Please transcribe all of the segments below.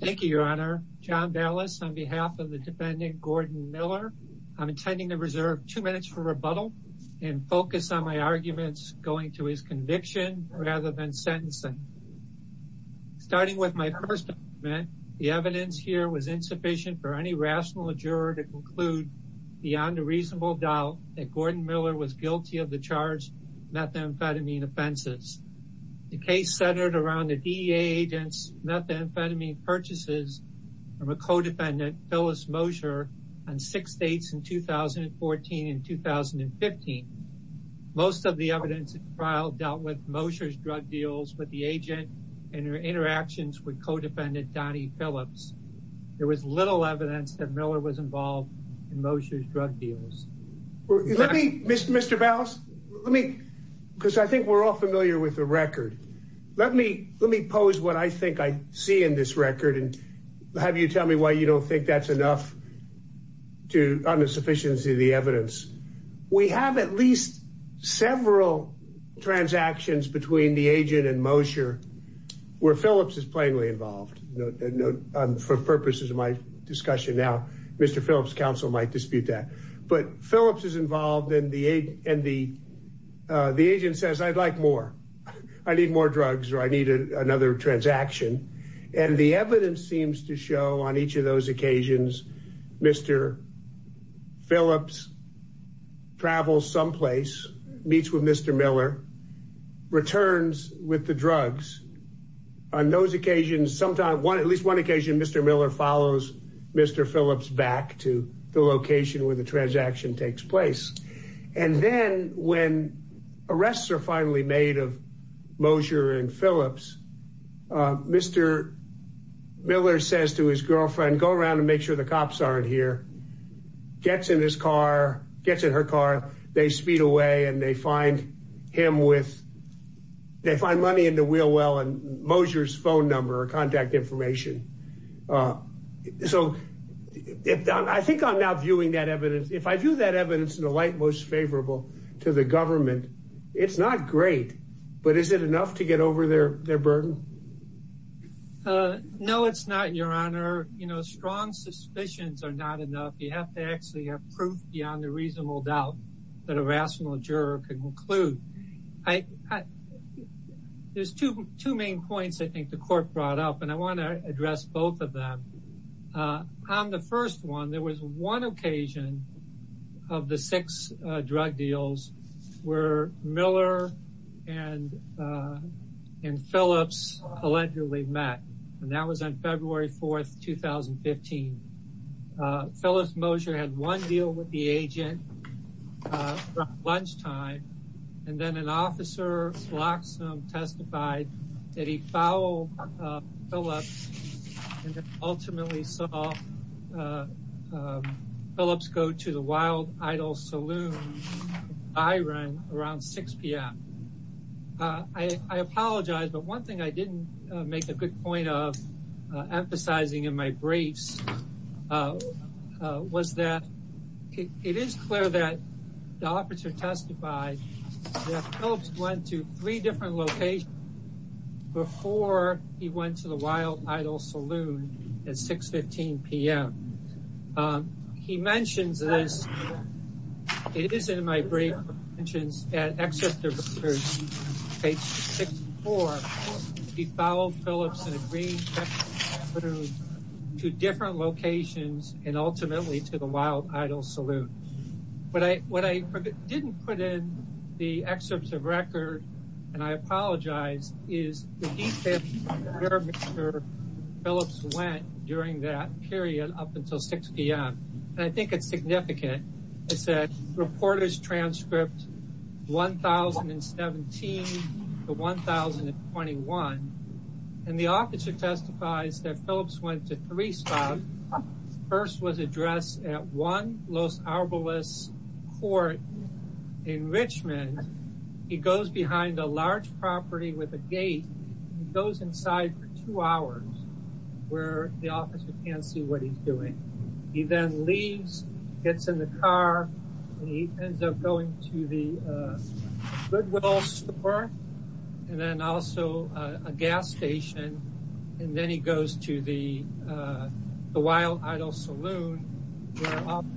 thank you your honor John Dallas on behalf of the defendant Gordon Miller I'm intending to reserve two minutes for rebuttal and focus on my arguments going to his conviction rather than sentencing starting with my first amendment the evidence here was insufficient for any rational juror to conclude beyond a reasonable doubt that Gordon Miller was guilty of the charged methamphetamine offenses the case centered around the DEA agents methamphetamine purchases from a co-defendant Phyllis Mosher on six states in 2014 and 2015 most of the evidence at trial dealt with Mosher's drug deals with the agent and her interactions with co-defendant Donnie Phillips there was little evidence that Miller was involved in Mosher's drug let me mr. mr. bells let me because I think we're all familiar with the record let me let me pose what I think I see in this record and have you tell me why you don't think that's enough to on the sufficiency of the evidence we have at least several transactions between the agent and Mosher where Phillips is plainly involved no no for purposes of my discussion now mr. Phillips counsel might dispute that but Phillips is involved in the aid and the the agent says I'd like more I need more drugs or I needed another transaction and the evidence seems to show on each of those occasions mr. Phillips travels someplace meets with mr. Miller returns with the drugs on those occasions sometime one at Miller follows mr. Phillips back to the location where the transaction takes place and then when arrests are finally made of Mosher and Phillips mr. Miller says to his girlfriend go around and make sure the cops aren't here gets in his car gets in her car they speed away and they find him with they find money in the wheel well and Mosher's phone number or contact information so I think I'm not viewing that evidence if I do that evidence in the light most favorable to the government it's not great but is it enough to get over their burden no it's not your honor you know strong suspicions are not enough you have to actually have proof beyond a reasonable doubt that a rational juror could conclude I there's two two main points I think the court brought up and I want to address both of them on the first one there was one occasion of the six drug deals where Miller and and Phillips allegedly met and that was on and then an officer Loxham testified that he foul Phillips ultimately saw Phillips go to the Wild Idol saloon I ran around 6 p.m. I apologize but one thing I didn't make a good point of emphasizing in my briefs was that it is clear that the officer testified went to three different locations before he went to the Wild Idol saloon at 615 p.m. he mentions this it is in my brief mentions at Exeter for he fouled Phillips and agreed to different locations and ultimately to the Wild Idol saloon but I what I didn't put in the excerpts of record and I apologize is the heat there Phillips went during that period up until 6 p.m. and I think it's significant I said reporters transcripts 1017 the 1021 and the officer testifies that Phillips went to first was addressed at one Los Alamos court in Richmond he goes behind a large property with a gate goes inside for two hours where the officer can't see what he's doing he then leaves gets in the car and he ends up going to the good and then also a gas station and then he goes to the the Wild Idol saloon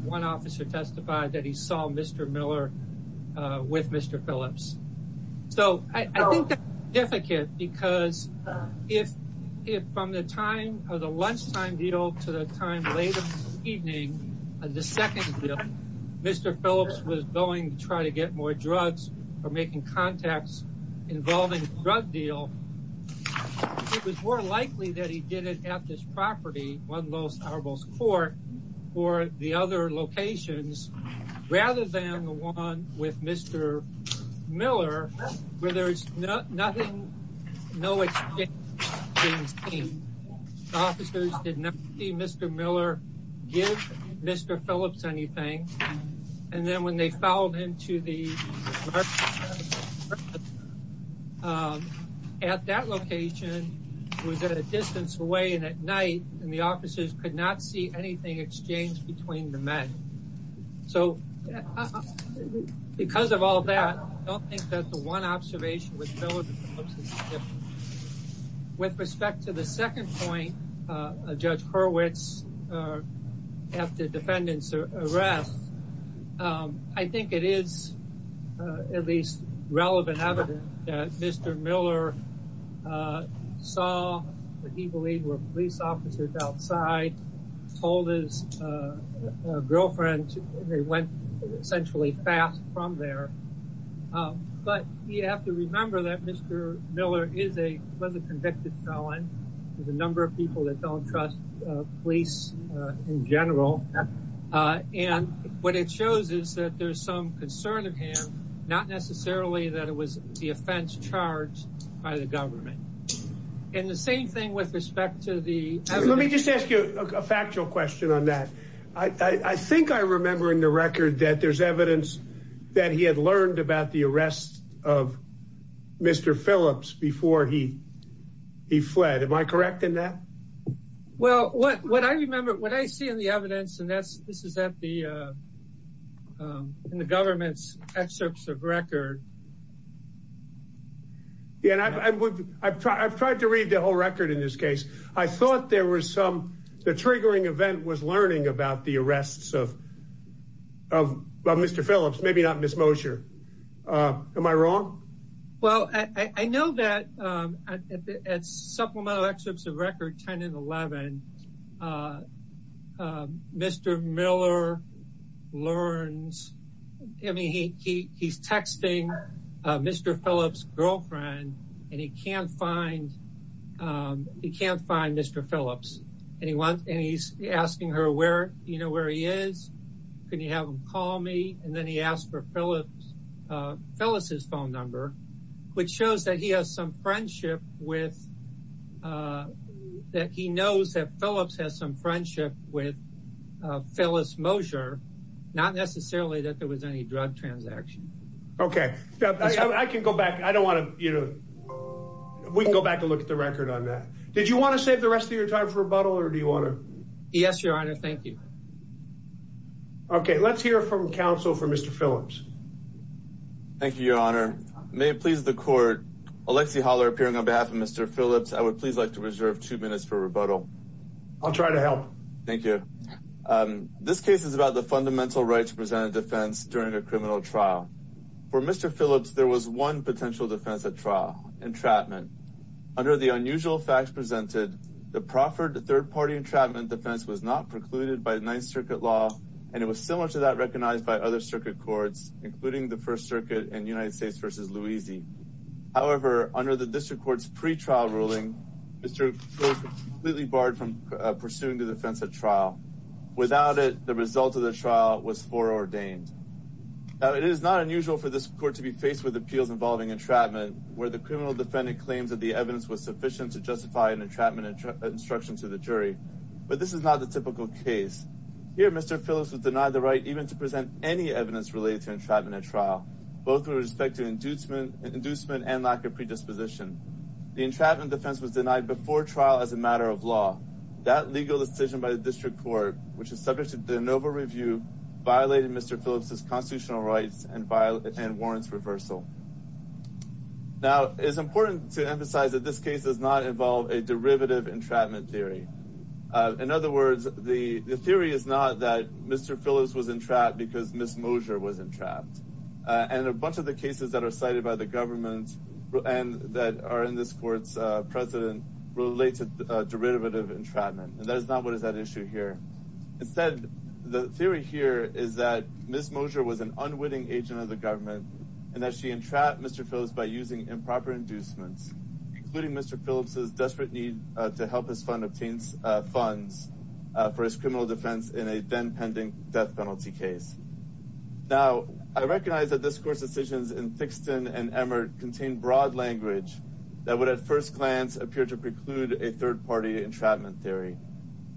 one officer testified that he saw mr. Miller with mr. Phillips so I think if I can't because if it from the time of the lunchtime deal to the time late evening the second mr. Phillips was going to try to get more drugs or making contacts involving drug deal it was more likely that he did it at this property one Los Alamos court or the other locations rather than the one with mr. Miller where nothing no it's mr. Miller give mr. Phillips anything and then when they fouled into the at that location was at a distance away and at night and the officers could not see anything exchanged between the men so because of all that I don't think that the one observation with with respect to the second point a judge Hurwitz after defendants arrest I think it is at least relevant evidence that mr. Miller saw that he believed were police officers outside told his girlfriend they went essentially fast from there but you have to remember that mr. Miller is a convicted felon there's a number of people that don't trust police in general and what it shows is that there's some concern of him not necessarily that it was the offense charged by the government and the same thing with respect to the let me just ask you a factual question on that I think I remember in the record that there's evidence that he had learned about the arrest of mr. Phillips before he he fled am I correct in that well what what I remember what I see in the yeah and I would I've tried to read the whole record in this case I thought there was some the triggering event was learning about the arrests of mr. Phillips maybe not miss Mosher am I wrong well I know that at supplemental excerpts of record 10 and 11 mr. Miller learns I mean he he's texting mr. Phillips girlfriend and he can't find he can't find mr. Phillips anyone and he's asking her where you know where he is can you have him call me and then he asked for Phillips Phyllis's phone number which shows that he has some friendship with that he knows that Phillips has some friendship with Phyllis Mosher not necessarily that there was any drug transaction okay I can go back I don't want to you know we can go back and look at the record on that did you want to save the rest of your time for a bottle or do you want to yes your honor thank you okay let's hear from counsel for mr. Phillips thank you your honor may it please the court Alexi holler appearing on behalf of mr. Phillips I would please like to reserve two minutes for rebuttal I'll try to help thank you this case is about the fundamental rights presented defense during a criminal trial for mr. Phillips there was one potential defense at trial entrapment under the unusual facts presented the proffered the third party entrapment defense was not precluded by the Ninth Circuit law and it was similar to that recognized by other circuit courts including the First Circuit and United States vs. Louisie however under the district courts pretrial ruling mr. completely barred from pursuing the defense of trial without it the result of the trial was for ordained it is not unusual for this court to be faced with appeals involving entrapment where the criminal defendant claims that the evidence was sufficient to justify an entrapment instruction to the jury but this is not the typical case here mr. Phillips was denied the right even to present any evidence related to entrapment at trial both with respect to inducement and inducement and lack of predisposition the entrapment defense was denied before trial as a matter of law that legal decision by the district court which is subject to the Nova review violated mr. Phillips's constitutional rights and violence and warrants reversal now it's important to emphasize that this case does not involve a derivative entrapment theory in other words the theory is not that mr. Phillips was entrapped because miss Mosher was entrapped and a bunch of the cases that are cited by the government and that are in this courts president related derivative entrapment and that is not what is that issue here instead the theory here is that miss Mosher was an unwitting agent of the government and that she entrapped mr. Phillips by using improper inducements including mr. Phillips's desperate need to help his fund obtains funds for his criminal defense in a then pending death penalty case now I recognize that this course decisions in Thixton and Emmert contained broad language that would at first glance appear to preclude a third-party entrapment theory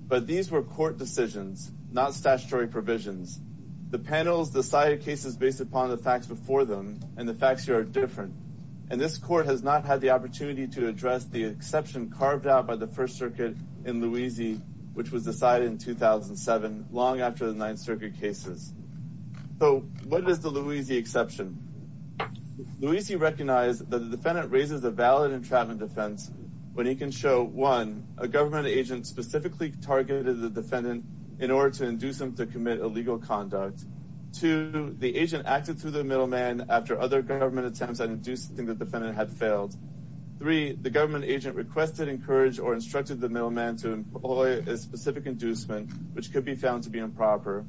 but these were court decisions not statutory provisions the panels decided cases based upon the facts before them and the facts are different and this court has not had the opportunity to address the exception carved out by the First Circuit in Louisiana which was decided in 2007 long after the Ninth Circuit cases so what is the Louisiana exception Louisiana recognized that the defendant raises a valid entrapment defense when he can show one a government agent specifically targeted the defendant in order to induce them to commit illegal conduct to the agent acted through the middleman after other government attempts and do something that the defendant had failed three the government agent requested encouraged or instructed the middleman to employ a specific inducement which could be found to be improper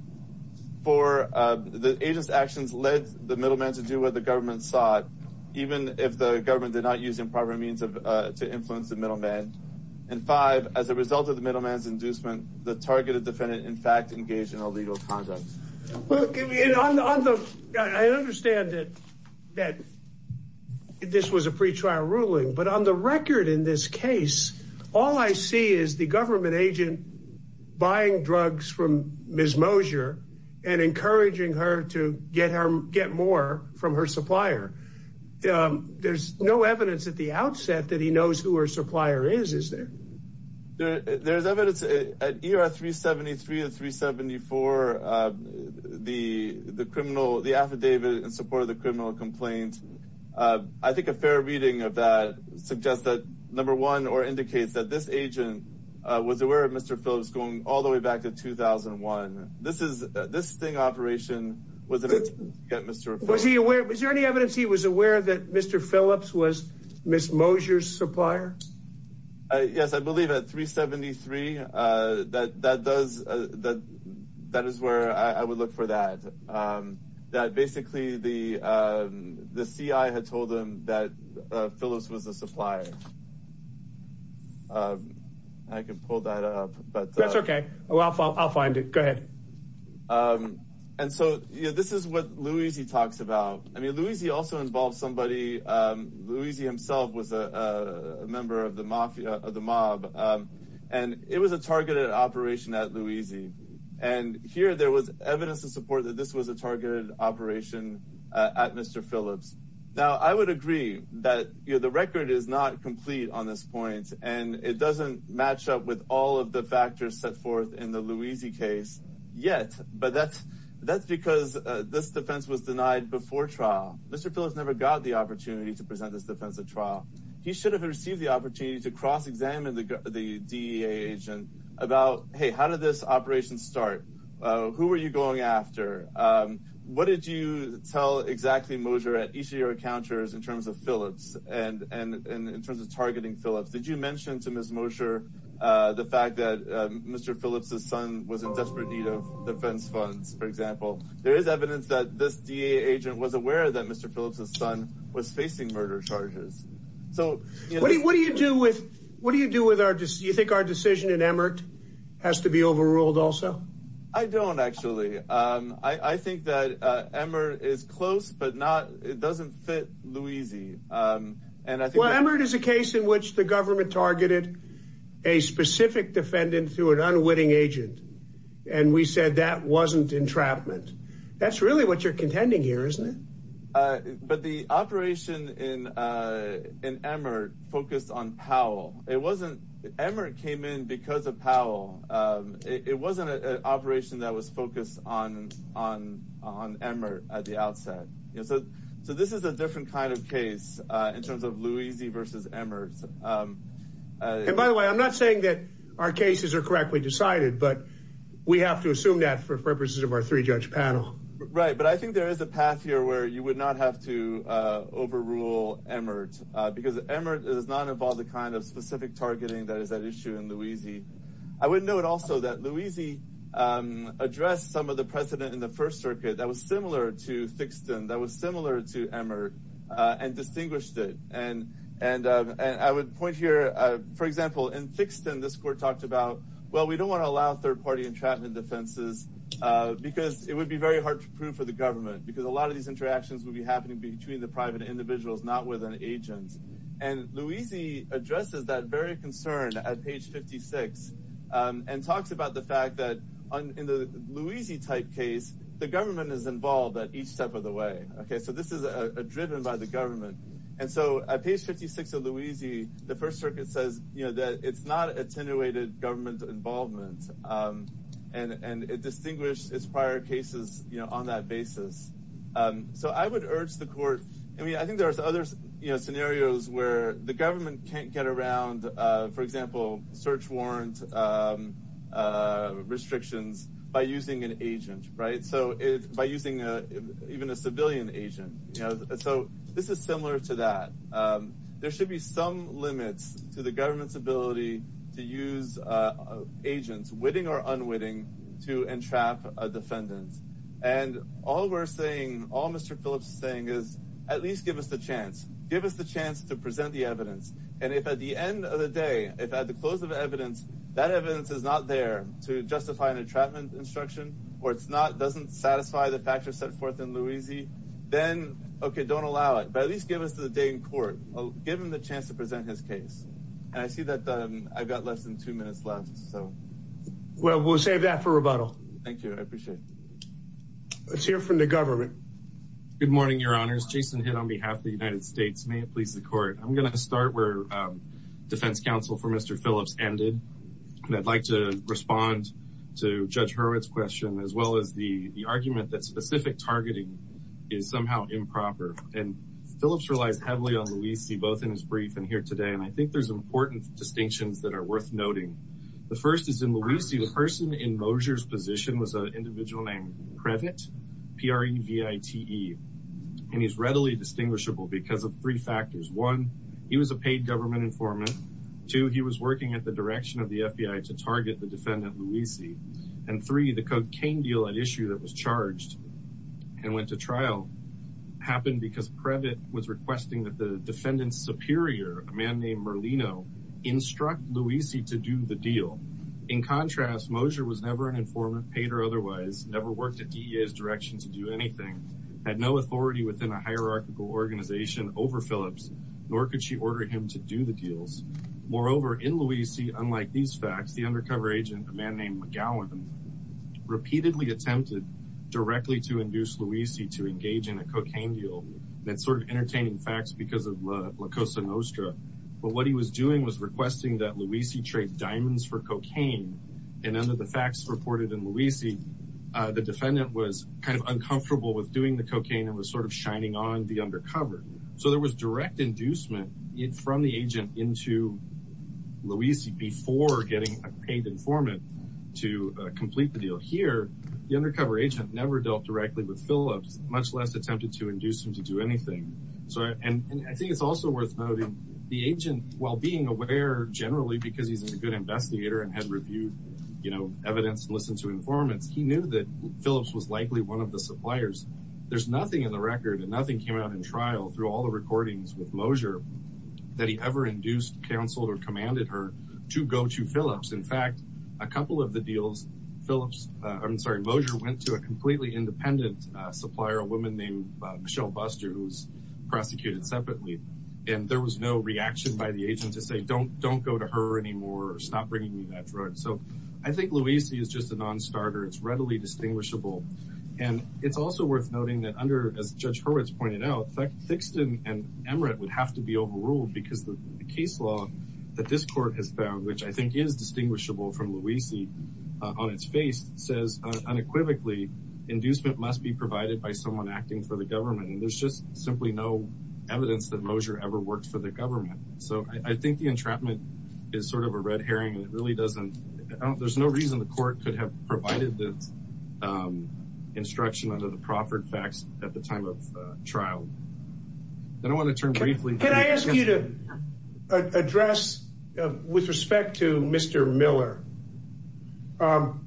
for the agents actions led the middleman to do what the government sought even if the government did not use improper means of to influence the middleman and five as a result of the middleman's inducement the targeted defendant in fact engaged in illegal conduct I understand it that this was a pretrial ruling but on the record in this case all I see is the government agent buying drugs from Ms. Mosier and encouraging her to get her get more from her supplier there's no evidence at the outset that he knows who her supplier is is there there's evidence at ER 373 and 374 the the criminal the affidavit in support of the criminal complaint I think a fair reading of that suggests that number one or indicates that this agent was aware of Mr. Phillips going all the way back to 2001 this is this thing operation was it mr. was he aware was there any evidence he was aware that mr. Phillips was miss Mosier supplier yes I believe at 373 that that does that that is where I would look for that that basically the the CI had told them that Phyllis was a supplier I can pull that up but that's okay well I'll find it go ahead and so yeah this is what Louie's he talks about I mean Louie's he also involved somebody Louie's he himself was a member of the mafia of the mob and it was a targeted operation at Louie's II and here there was evidence to support that this was a targeted operation at mr. Phillips now I would agree that you know the record is not complete on this point and it doesn't match up with all of the factors set forth in the Louie's II case yet but that's because this defense was denied before trial mr. Phillips never got the opportunity to present this defensive trial he should have received the opportunity to cross-examine the DEA agent about hey how did this operation start who were you going after what did you tell exactly Mosier at each of your encounters in terms of Phillips and and in terms of targeting Phillips did you mention to miss Mosier the fact that mr. Phillips's son was in desperate need of defense funds for example there is evidence that this DEA agent was aware that mr. Phillips's son was facing murder charges so what do you do with what do you do with our just you think our decision in Emmert has to be overruled also I don't actually I think that Emmer is close but not it doesn't fit Louie's II and I think whatever it is a case in which the government targeted a specific defendant through an unwitting agent and we said that wasn't entrapment that's really what you're contending here isn't it but the operation in in Emmert focused on Powell it wasn't Emmert came in because of Powell it wasn't an operation that was focused on on on Emmert at the outset so so this is a different kind of case in terms of Louie's II versus Emmert and by the way I'm not saying that our cases are correctly decided but we have to assume that for purposes of our three judge panel right but I think there is a path here where you would not have to overrule Emmert because Emmert does not involve the kind of specific targeting that is that issue in Louie's II I wouldn't know it also that Louie's II addressed some of the precedent in the to Emmert and distinguished it and and and I would point here for example and fixed in this court talked about well we don't want to allow third-party entrapment defenses because it would be very hard to prove for the government because a lot of these interactions will be happening between the private individuals not with an agent and Louie's II addresses that very concern at page 56 and talks about the fact that in the Louie's II type case the government is involved at each step of the way okay so this is a driven by the government and so at page 56 of Louie's II the First Circuit says you know that it's not attenuated government involvement and and it distinguished its prior cases you know on that basis so I would urge the court I mean I think there's others you know scenarios where the government can't get around for example search warrant restrictions by using an agent right so if by using a even a civilian agent you know so this is similar to that there should be some limits to the government's ability to use agents witting or unwitting to entrap a defendant and all we're saying all mr. Phillips saying is at least give us the chance give us the chance to present the evidence and if at the end of the day if at the close of evidence that evidence is not there to justify an entrapment instruction or it's not doesn't satisfy the factors set forth in Louie's II then okay don't allow it but at least give us to the day in court given the chance to present his case and I see that I've got less than two minutes left so well we'll save that for rebuttal thank you I appreciate let's hear from the government good morning your honors Jason hit on behalf of the defense counsel for mr. Phillips ended and I'd like to respond to judge Hurwitz question as well as the argument that specific targeting is somehow improper and Phillips relies heavily on Louie see both in his brief and here today and I think there's important distinctions that are worth noting the first is in Louie see the person in Mosher's position was a individual named credit pre-vit E and he's readily distinguishable because of three factors one he was a paid government informant to he was working at the direction of the FBI to target the defendant Louie see and three the cocaine deal at issue that was charged and went to trial happened because credit was requesting that the defendants superior a man named Merlino instruct Louie see to do the deal in contrast Mosher was never an informant paid or otherwise never worked at the is direction to do anything had no authority within a hierarchical organization over Phillips nor could she order him to do the deals moreover in Louie see unlike these facts the undercover agent a man named McGowan repeatedly attempted directly to induce Louie see to engage in a cocaine deal that sort of entertaining facts because of La Cosa Nostra but what he was doing was requesting that Louie see trade diamonds for cocaine and under the facts reported in Louie see the defendant was kind of uncomfortable with doing the so there was direct inducement it from the agent into Louie see before getting a paid informant to complete the deal here the undercover agent never dealt directly with Phillips much less attempted to induce him to do anything so and I think it's also worth noting the agent while being aware generally because he's a good investigator and had reviewed you know evidence listen to informants he knew that Phillips was likely one of the suppliers there's through all the recordings with Mosher that he ever induced counsel or commanded her to go to Phillips in fact a couple of the deals Phillips I'm sorry Mosher went to a completely independent supplier a woman named Michelle Buster who's prosecuted separately and there was no reaction by the agent to say don't don't go to her anymore stop bringing me that drug so I think Louie see is just a non-starter it's readily distinguishable and it's also worth noting that under as judge Horowitz pointed out that fixed in an emirate would have to be overruled because the case law that this court has found which I think is distinguishable from Louie see on its face says unequivocally inducement must be provided by someone acting for the government and there's just simply no evidence that Mosher ever worked for the government so I think the entrapment is sort of a red herring and it really doesn't there's no reason the provided this instruction under the Crawford facts at the time of trial then I want to turn briefly can I ask you to address with respect to mr. Miller and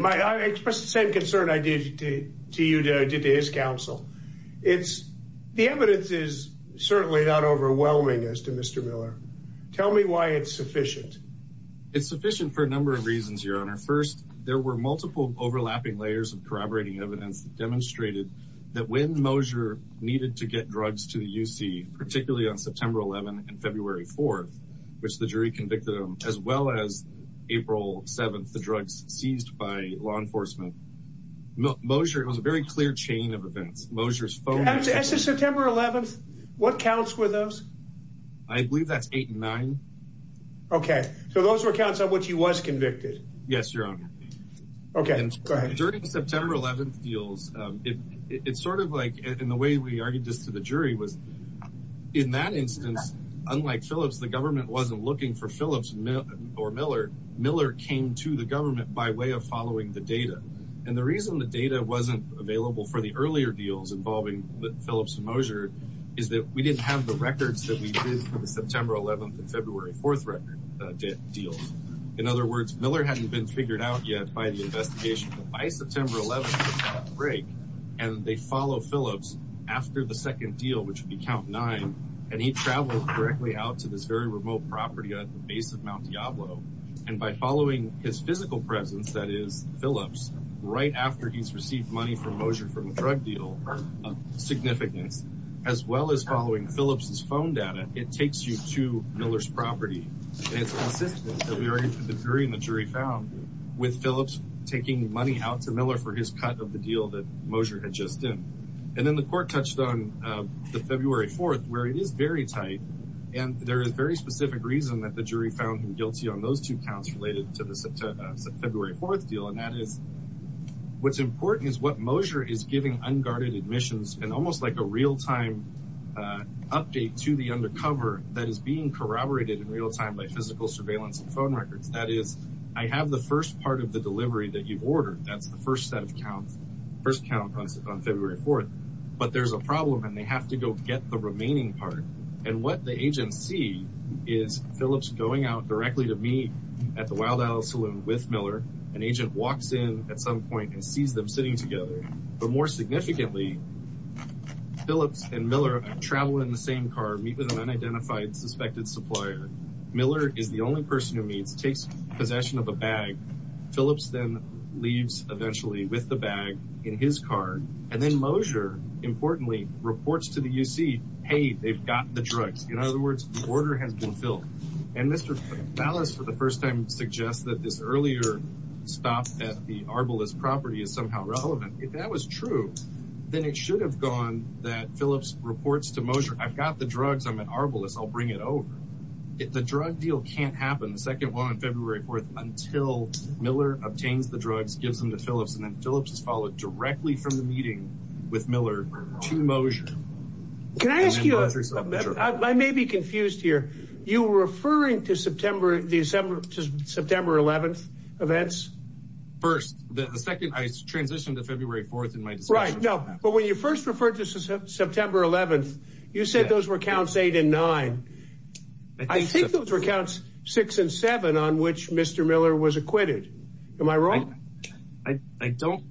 my I expressed the same concern I did to you did I did to his counsel it's the evidence is certainly not overwhelming as to mr. Miller tell me why it's sufficient for a number of reasons your honor first there were multiple overlapping layers of corroborating evidence demonstrated that when Mosher needed to get drugs to the UC particularly on September 11 and February 4th which the jury convicted him as well as April 7th the drugs seized by law enforcement Mosher it was a very clear chain of events Mosher's phone that's a September 11th what counts were those I believe that's eight nine okay so those were counts on what you was convicted yes your honor okay during September 11th deals it's sort of like in the way we argued this to the jury was in that instance unlike Phillips the government wasn't looking for Phillips or Miller Miller came to the government by way of following the data and the reason the data wasn't available for the earlier deals involving the Phillips and Mosher is that we didn't have the records that we did for the September 11th and February 4th record deals in other words Miller hadn't been figured out yet by the investigation by September 11th break and they follow Phillips after the second deal which would be count nine and he traveled correctly out to this very remote property at the base of Mount Diablo and by following his physical presence that is Phillips right after he's received money from Mosher from a drug deal significance as well as following Phillips's phone data it takes you to Miller's property and it's consistent that we are in for the jury and the jury found with Phillips taking money out to Miller for his cut of the deal that Mosher had just in and then the court touched on the February 4th where it is very tight and there is very specific reason that the jury found him guilty on those two counts related to the February 4th deal and that is what's important is what Mosher is giving unguarded admissions and almost like a real-time update to the undercover that is being corroborated in real time by physical surveillance and phone records that is I have the first part of the delivery that you've ordered that's the first set of counts first count on February 4th but there's a problem and they have to go get the remaining part and what the agents see is Phillips going out directly to me at the Wild Alley Saloon with Miller an agent walks in at some point and sees them sitting together but more significantly Phillips and Miller travel in the same car meet with an unidentified suspected supplier Miller is the only person who meets takes possession of a bag Phillips then leaves eventually with the bag in his car and then Mosher importantly reports to the UC hey they've got the drugs in other words order has been filled and for the first time suggest that this earlier stop at the Arbalest property is somehow relevant if that was true then it should have gone that Phillips reports to Mosher I've got the drugs I'm at Arbalest I'll bring it over if the drug deal can't happen the second one on February 4th until Miller obtains the drugs gives them to Phillips and then Phillips is followed directly from the meeting with Miller to Mosher can I ask you others I may be confused here you referring to September December to September 11th events first the second I transitioned to February 4th in my right no but when you first referred to September 11th you said those were counts eight and nine I think those were counts six and seven on which mr. Miller was acquitted am I wrong I don't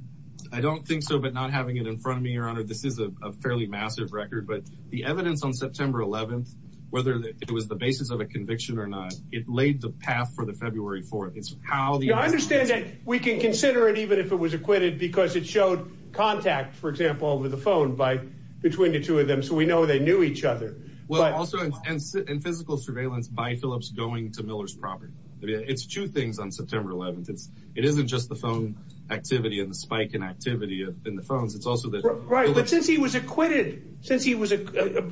I don't think so but not having it in front of me your honor this is a fairly massive record but the evidence on September 11th whether it was the basis of a conviction or not it laid the path for the February 4th it's how the I understand that we can consider it even if it was acquitted because it showed contact for example over the phone by between the two of them so we know they knew each other well also in physical surveillance by Phillips going to Miller's property it's two things on September 11th it's it isn't just the phone activity and the spike in activity in the phones it's also that right but since he was acquitted since he was a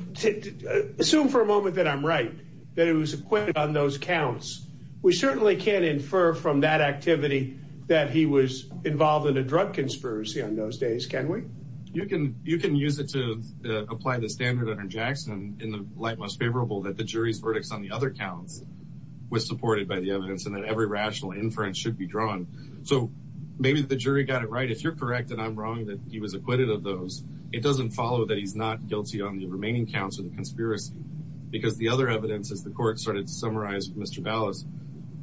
assume for a on those counts we certainly can't infer from that activity that he was involved in a drug conspiracy on those days can we you can you can use it to apply the standard under Jackson in the light most favorable that the jury's verdicts on the other counts was supported by the evidence and that every rational inference should be drawn so maybe the jury got it right if you're correct and I'm wrong that he was acquitted of those it doesn't follow that he's not guilty on the remaining counts of the conspiracy because the other evidence as the court started to summarize mr. Dallas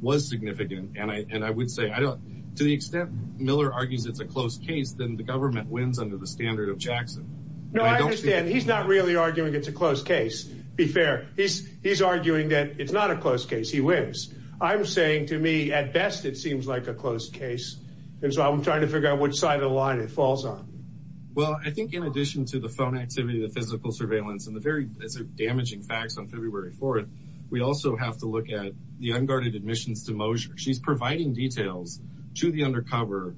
was significant and I and I would say I don't to the extent Miller argues it's a close case then the government wins under the standard of Jackson no I understand he's not really arguing it's a close case be fair he's he's arguing that it's not a close case he wins I'm saying to me at best it seems like a close case and so I'm trying to figure out which side of the line it falls on well I think in addition to the phone activity the physical surveillance and the very damaging facts on February 4th we also have to look at the unguarded admissions to Mosher she's providing details to the undercover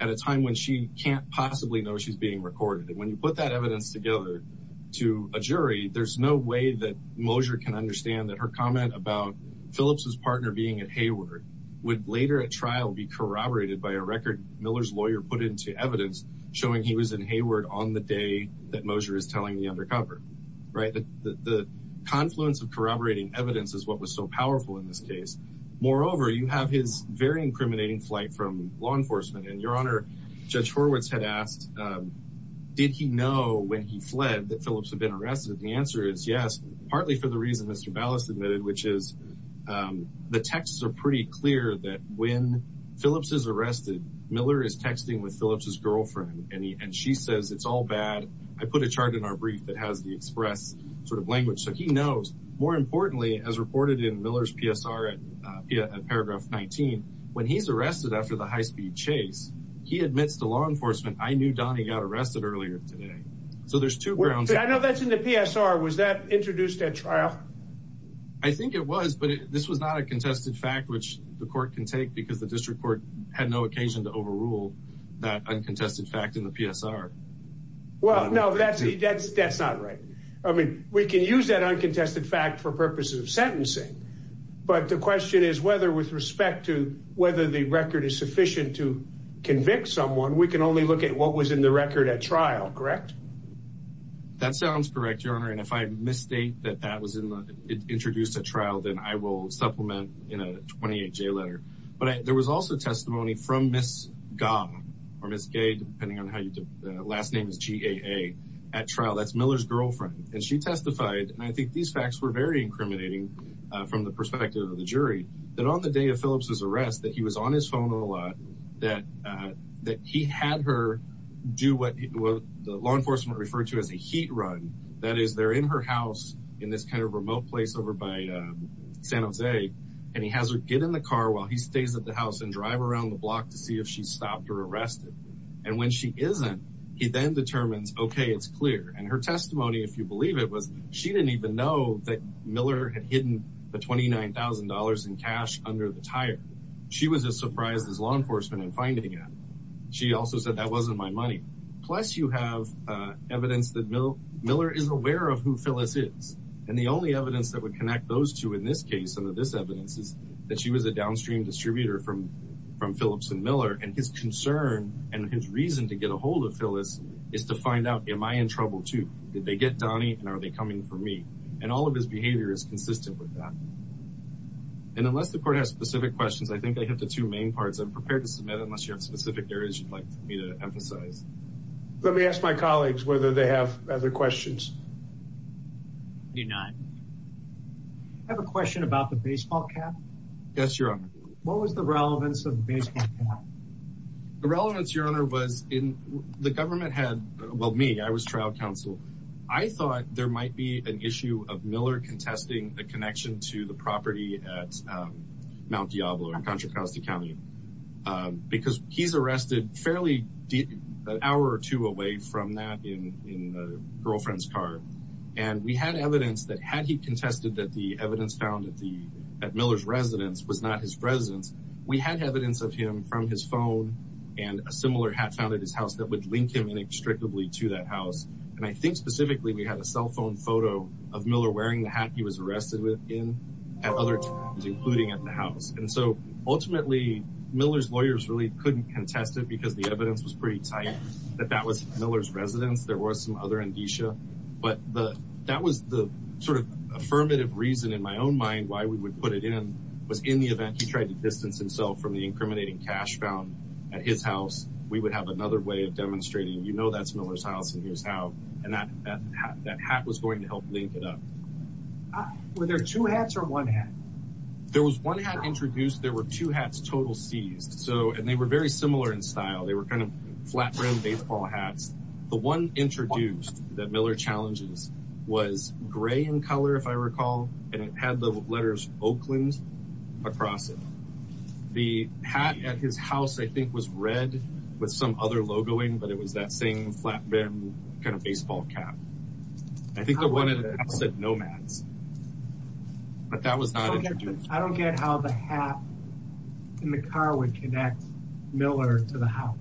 at a time when she can't possibly know she's being recorded and when you put that evidence together to a jury there's no way that Mosher can understand that her comment about Phillips's partner being at Hayward would later at trial be corroborated by a record Miller's lawyer put into evidence showing he was in Hayward on the day that Mosher is telling the undercover right the confluence of corroborating evidence is what was so powerful in this case moreover you have his very incriminating flight from law enforcement and your honor judge Horwitz had asked did he know when he fled that Phillips had been arrested the answer is yes partly for the reason mr. ballast admitted which is the texts are pretty clear that when Phillips is arrested Miller is texting with Phillips's I put a chart in our brief that has the express sort of language so he knows more importantly as reported in Miller's PSR at paragraph 19 when he's arrested after the high-speed chase he admits to law enforcement I knew Donnie got arrested earlier today so there's two grounds I know that's in the PSR was that introduced at trial I think it was but this was not a contested fact which the court can take because the district court had no occasion to overrule that well no that's that's that's not right I mean we can use that uncontested fact for purposes of sentencing but the question is whether with respect to whether the record is sufficient to convict someone we can only look at what was in the record at trial correct that sounds correct your honor and if I misstate that that was in the introduced a trial then I will supplement in a 28 J letter but there was also testimony from miss gong or miss gay depending on how you do last name is GAA at trial that's Miller's girlfriend and she testified and I think these facts were very incriminating from the perspective of the jury that on the day of Phillips's arrest that he was on his phone a lot that that he had her do what the law enforcement referred to as a heat run that is there in her house in this kind of remote place over by San Jose and he has her get in the car while he stays at the house and drive around the block to see if she stopped or arrested and when she isn't he then determines okay it's clear and her testimony if you believe it was she didn't even know that Miller had hidden the $29,000 in cash under the tire she was as surprised as law enforcement and finding it she also said that wasn't my money plus you have evidence that mill Miller is aware of who Phyllis is and the only evidence that would connect those two in this case some of this evidence is that she was a downstream distributor from from Phillips and Miller and his concern and his reason to get ahold of Phyllis is to find out am I in trouble too did they get Donnie and are they coming for me and all of his behavior is consistent with that and unless the court has specific questions I think I have the two main parts I'm prepared to submit unless you have specific areas you'd like me to emphasize let me ask my colleagues whether they have other questions do not have a question about the baseball cap yes your honor what was the relevance of baseball the relevance your honor was in the government had well me I was trial counsel I thought there might be an issue of Miller contesting the connection to the property at Mount Diablo in Contra Costa County because he's arrested fairly deep an hour or two away from that in a girlfriend's car and we had evidence that had he contested that the evidence found at the at Miller's residence was not his residence we had evidence of him from his phone and a similar hat found at his house that would link him inextricably to that house and I think specifically we had a cell phone photo of Miller wearing the hat he was arrested with in at other times including at the house and so ultimately Miller's lawyers really couldn't contest it because the evidence was pretty tight that that was Miller's residence there was some other indicia but the that was the sort of affirmative reason in my own mind why we would put it in was in the event he tried to distance himself from the incriminating cash found at his house we would have another way of demonstrating you know that's Miller's house and here's how and that that hat was going to help link it up were there two hats or one hat there was one hat introduced there were two hats total seized so and they were very similar in style they were kind of flat rim baseball hats the one introduced that Miller challenges was gray in color if I recall and it had the letters Oakland across it the hat at his house I think was red with some other logo in but it was that same flat rim kind of baseball cap I think I wanted it said nomads but that was not I don't get how the hat in the car would Miller to the house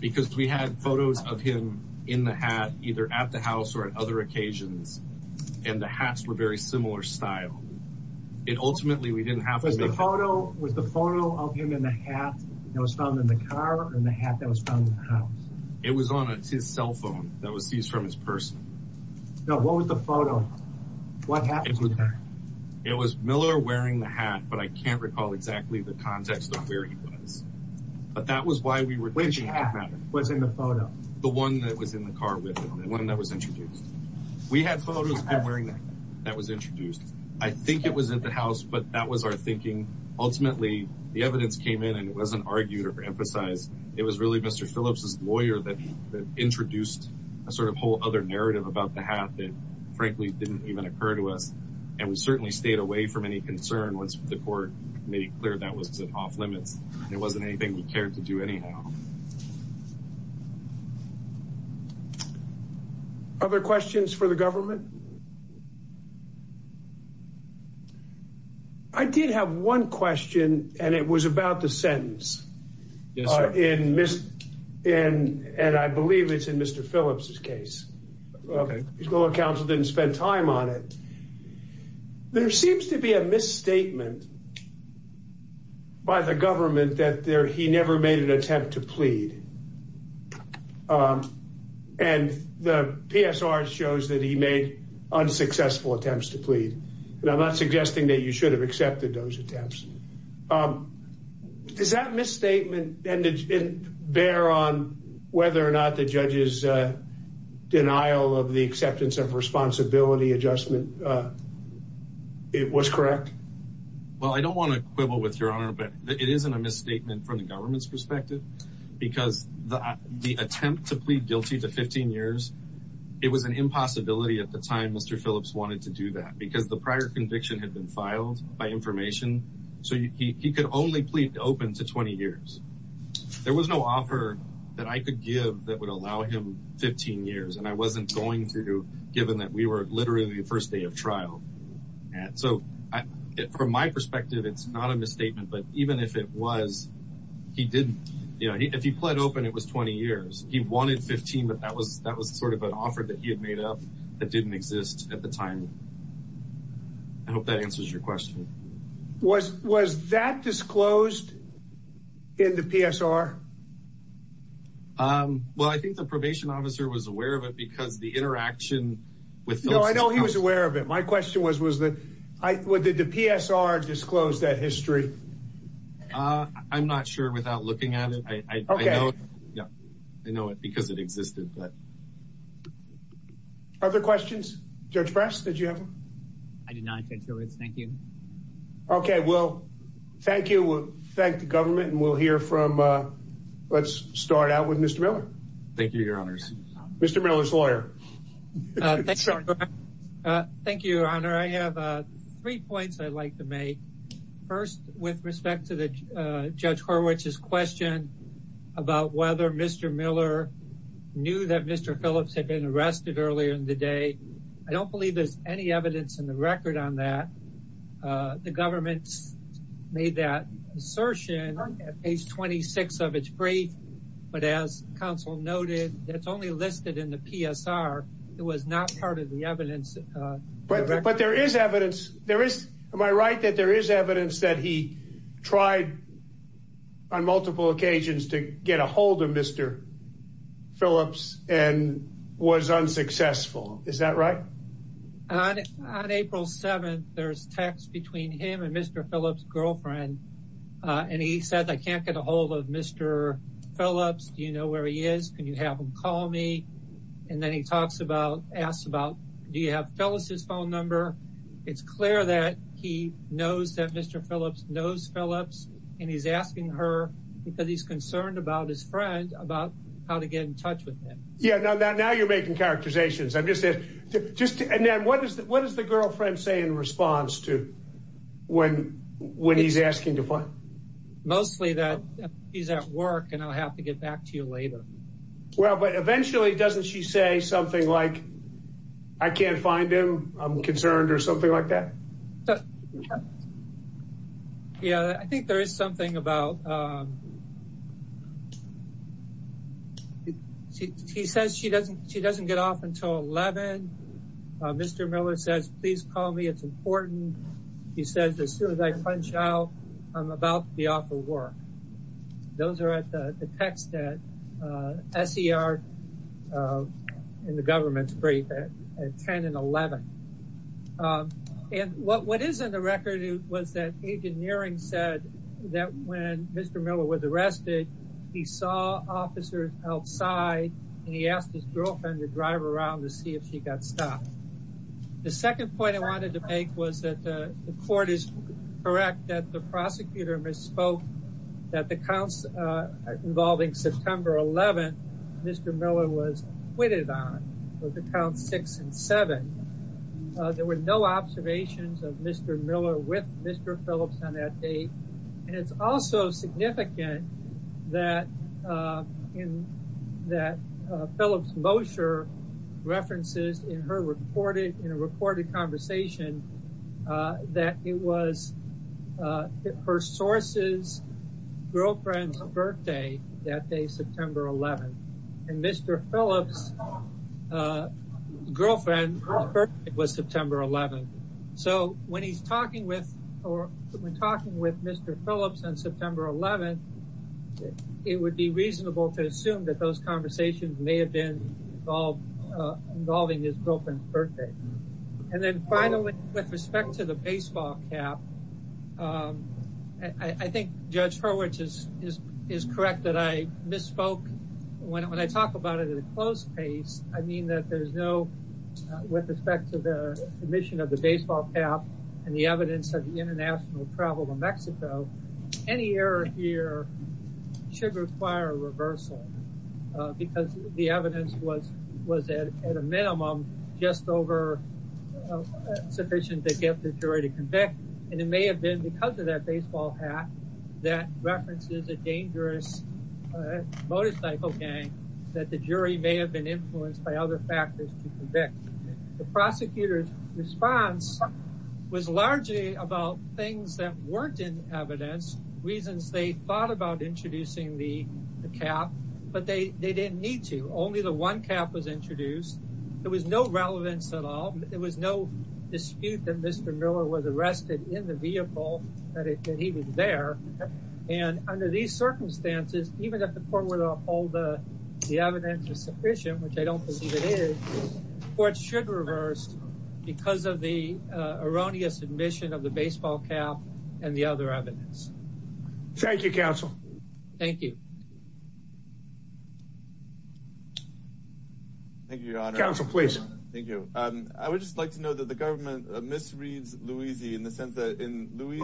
because we had photos of him in the hat either at the house or at other occasions and the hats were very similar style it ultimately we didn't have a photo with the photo of him in the hat that was found in the car and the hat that was found in the house it was on his cell phone that was seized from his person no what was the photo what happens with that it was Miller wearing the hat but I can't recall exactly the context of where he was but that was why we were which was in the photo the one that was in the car with one that was introduced we had photos of him wearing that that was introduced I think it was at the house but that was our thinking ultimately the evidence came in and it wasn't argued or emphasized it was really mr. Phillips's lawyer that introduced a sort of whole other narrative about the hat that frankly didn't even occur to us and we certainly stayed away from any concern once the court made it clear that was off-limits it wasn't anything we cared to do anyhow other questions for the government I did have one question and it was about the sentence in miss in and I believe it's in mr. Phillips's case okay he's going to counsel didn't spend time on it there seems to be a misstatement by the government that there he never made an attempt to plead and the PSR shows that he made unsuccessful attempts to plead and I'm not suggesting that you should have accepted those attempts is that misstatement and it didn't bear on whether or not the judge's denial of the was correct well I don't want to quibble with your honor but it isn't a misstatement from the government's perspective because the the attempt to plead guilty to 15 years it was an impossibility at the time mr. Phillips wanted to do that because the prior conviction had been filed by information so he could only plead open to 20 years there was no offer that I could give that would allow him 15 years and I wasn't going through given that we were literally the first day of trial and so from my perspective it's not a misstatement but even if it was he didn't you know he if he pled open it was 20 years he wanted 15 but that was that was sort of an offer that he had made up that didn't exist at the time I hope that answers your question was was that disclosed in the PSR well I think the probation officer was aware of it because the interaction with no I know he was aware of it my question was was that I would did the PSR disclose that history I'm not sure without looking at it okay yeah I know it because it existed but other questions judge press did you have I did not thank you okay well thank you thank the government and we'll hear from let's start out with mr. Miller thank you your honors mr. Miller lawyer thank you thank you your honor I have three points I'd like to make first with respect to the judge Horwich's question about whether mr. Miller knew that mr. Phillips had been arrested earlier in the day I don't believe there's any evidence in the record on that the government's made that assertion on page 26 of its brief but as counsel noted that's only listed in the PSR it was not part of the evidence but there is evidence there is am I right that there is evidence that he tried on multiple occasions to get a hold of mr. Phillips and was unsuccessful is that right on April 7th there's text between him and mr. Phillips girlfriend and he said I can't get a hold of mr. Phillips do you know where he is can you have him call me and then he talks about asked about do you have Phyllis's phone number it's clear that he knows that mr. Phillips knows Phillips and he's asking her because he's concerned about his friend about how to get in touch with him yeah now that now you're making characterizations I'm just it just and then what is that what does the girlfriend say in response to when when he's asking to play mostly that he's at work and I'll have to get back to you later well but eventually doesn't she say something like I can't find him I'm concerned or something like that yeah I think there is something about he says she doesn't she doesn't get off until 11 mr. Miller says please call me it's important he says as soon as I punch out I'm about to be off of work those are at the text that SCR in the government's brief at 10 and 11 and what what is in the record was that agent Nearing said that when mr. Miller was arrested he saw officers outside and he asked his girlfriend to drive around to see if she got stopped the second point I wanted to prosecutor misspoke that the counts involving September 11 mr. Miller was waited on for the count six and seven there were no observations of mr. Miller with mr. Phillips on that date and it's also significant that in that Phillips Mosher references in her reported in a recorded conversation that it was her sources girlfriend's birthday that day September 11 and mr. Phillips girlfriend it was September 11 so when he's talking with or we're talking with mr. Phillips on September 11th it would be reasonable to assume that those conversations may have been involved involving his girlfriend's birthday and finally with respect to the baseball cap I think judge for which is is correct that I misspoke when I talk about it at a close pace I mean that there's no with respect to the mission of the baseball cap and the evidence of the international travel to Mexico any error here should require a reversal because the evidence was was at a minimum just over sufficient to get the jury to convict and it may have been because of that baseball hat that references a dangerous motorcycle gang that the jury may have been influenced by other factors to convict the prosecutor's response was largely about things that weren't in evidence reasons they thought about introducing the cap but they they didn't need to only the one cap was introduced there was no relevance at all there was no dispute that mr. Miller was arrested in the vehicle that he was there and under these circumstances even if the court would uphold the evidence is sufficient which I don't believe it is or it should reverse because of the erroneous admission of the baseball cap and the other evidence thank you thank you thank you counsel please thank you I would just like to know that the government misreads Louise in the sense that in Louise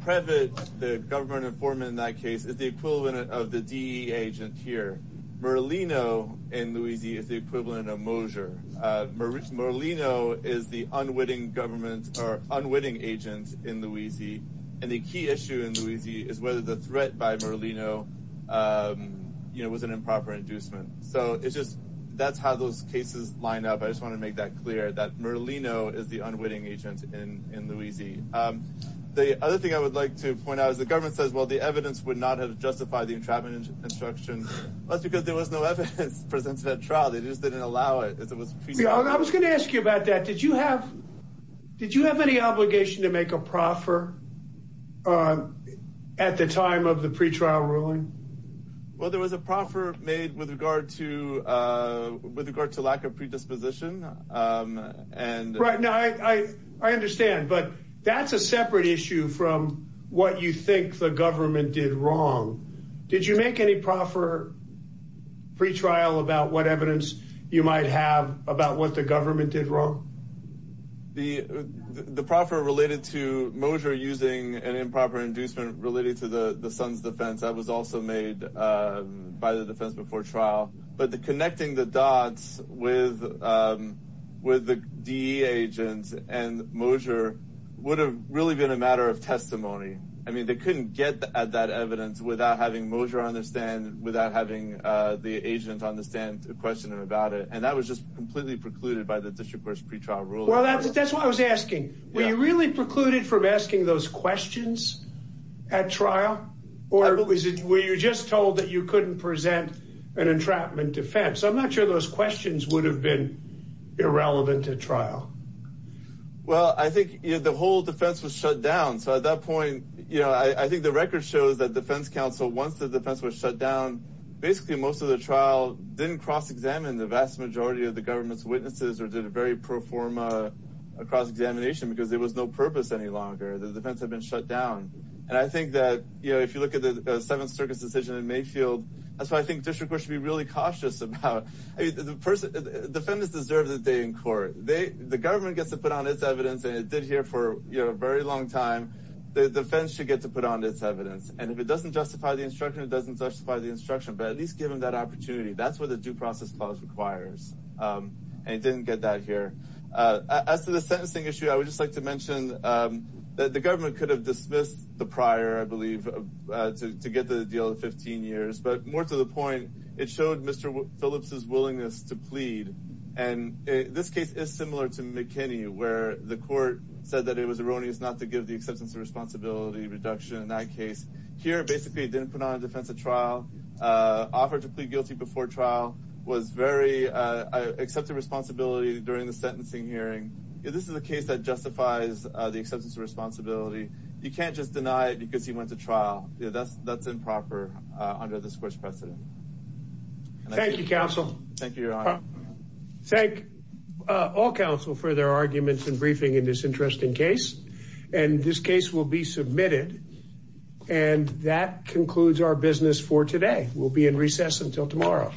private the government informant in that case is the equivalent of the D agent here Merlino and Louise is the equivalent of Mosher Maurice Merlino is the unwitting government or unwitting agents in Louise and the key issue in Louise is whether the threat by Merlino you know was an improper inducement so it's just that's how those cases line up I just want to make that clear that Merlino is the unwitting agent in in Louise the other thing I would like to point out is the government says well the evidence would not have justified the entrapment instruction that's because there was no evidence presented at trial they just didn't allow it I was gonna ask you about that did you have did you have any obligation to make a proffer at the time of the pretrial ruling well there was a proffer made with regard to with regard to lack of predisposition and right now I I understand but that's a separate issue from what you think the government did wrong did you make any proffer pretrial about what evidence you the proffer related to Mosher using an improper inducement related to the the son's defense that was also made by the defense before trial but the connecting the dots with with the D agents and Mosher would have really been a matter of testimony I mean they couldn't get at that evidence without having Mosher understand without having the agent understand a question about it and that was just completely precluded by the district courts pretrial rule well that's what I was asking we really precluded from asking those questions at trial or is it where you just told that you couldn't present an entrapment defense I'm not sure those questions would have been irrelevant to trial well I think you know the whole defense was shut down so at that point you know I think the record shows that defense counsel once the defense was shut down basically most of the trial didn't cross-examine the vast majority of the government's cross-examination because there was no purpose any longer the defense had been shut down and I think that you know if you look at the 7th Circus decision in Mayfield that's why I think district we should be really cautious about the person defendants deserve the day in court they the government gets to put on its evidence and it did here for you know a very long time the defense should get to put on its evidence and if it doesn't justify the instruction it doesn't justify the instruction but at least give them that opportunity that's what the due process clause requires and it didn't get that here as to the sentencing issue I would just like to mention that the government could have dismissed the prior I believe to get the deal of 15 years but more to the point it showed mr. Phillips's willingness to plead and this case is similar to McKinney where the court said that it was erroneous not to give the acceptance of responsibility reduction in that case here basically didn't put on defense a trial offer to plead guilty before trial was very accepted responsibility during the sentencing hearing this is a case that justifies the acceptance of responsibility you can't just deny it because he went to trial that's that's improper under this course precedent thank you counsel thank you thank all counsel for their arguments and briefing in this submitted and that concludes our business for today we'll be in recess until tomorrow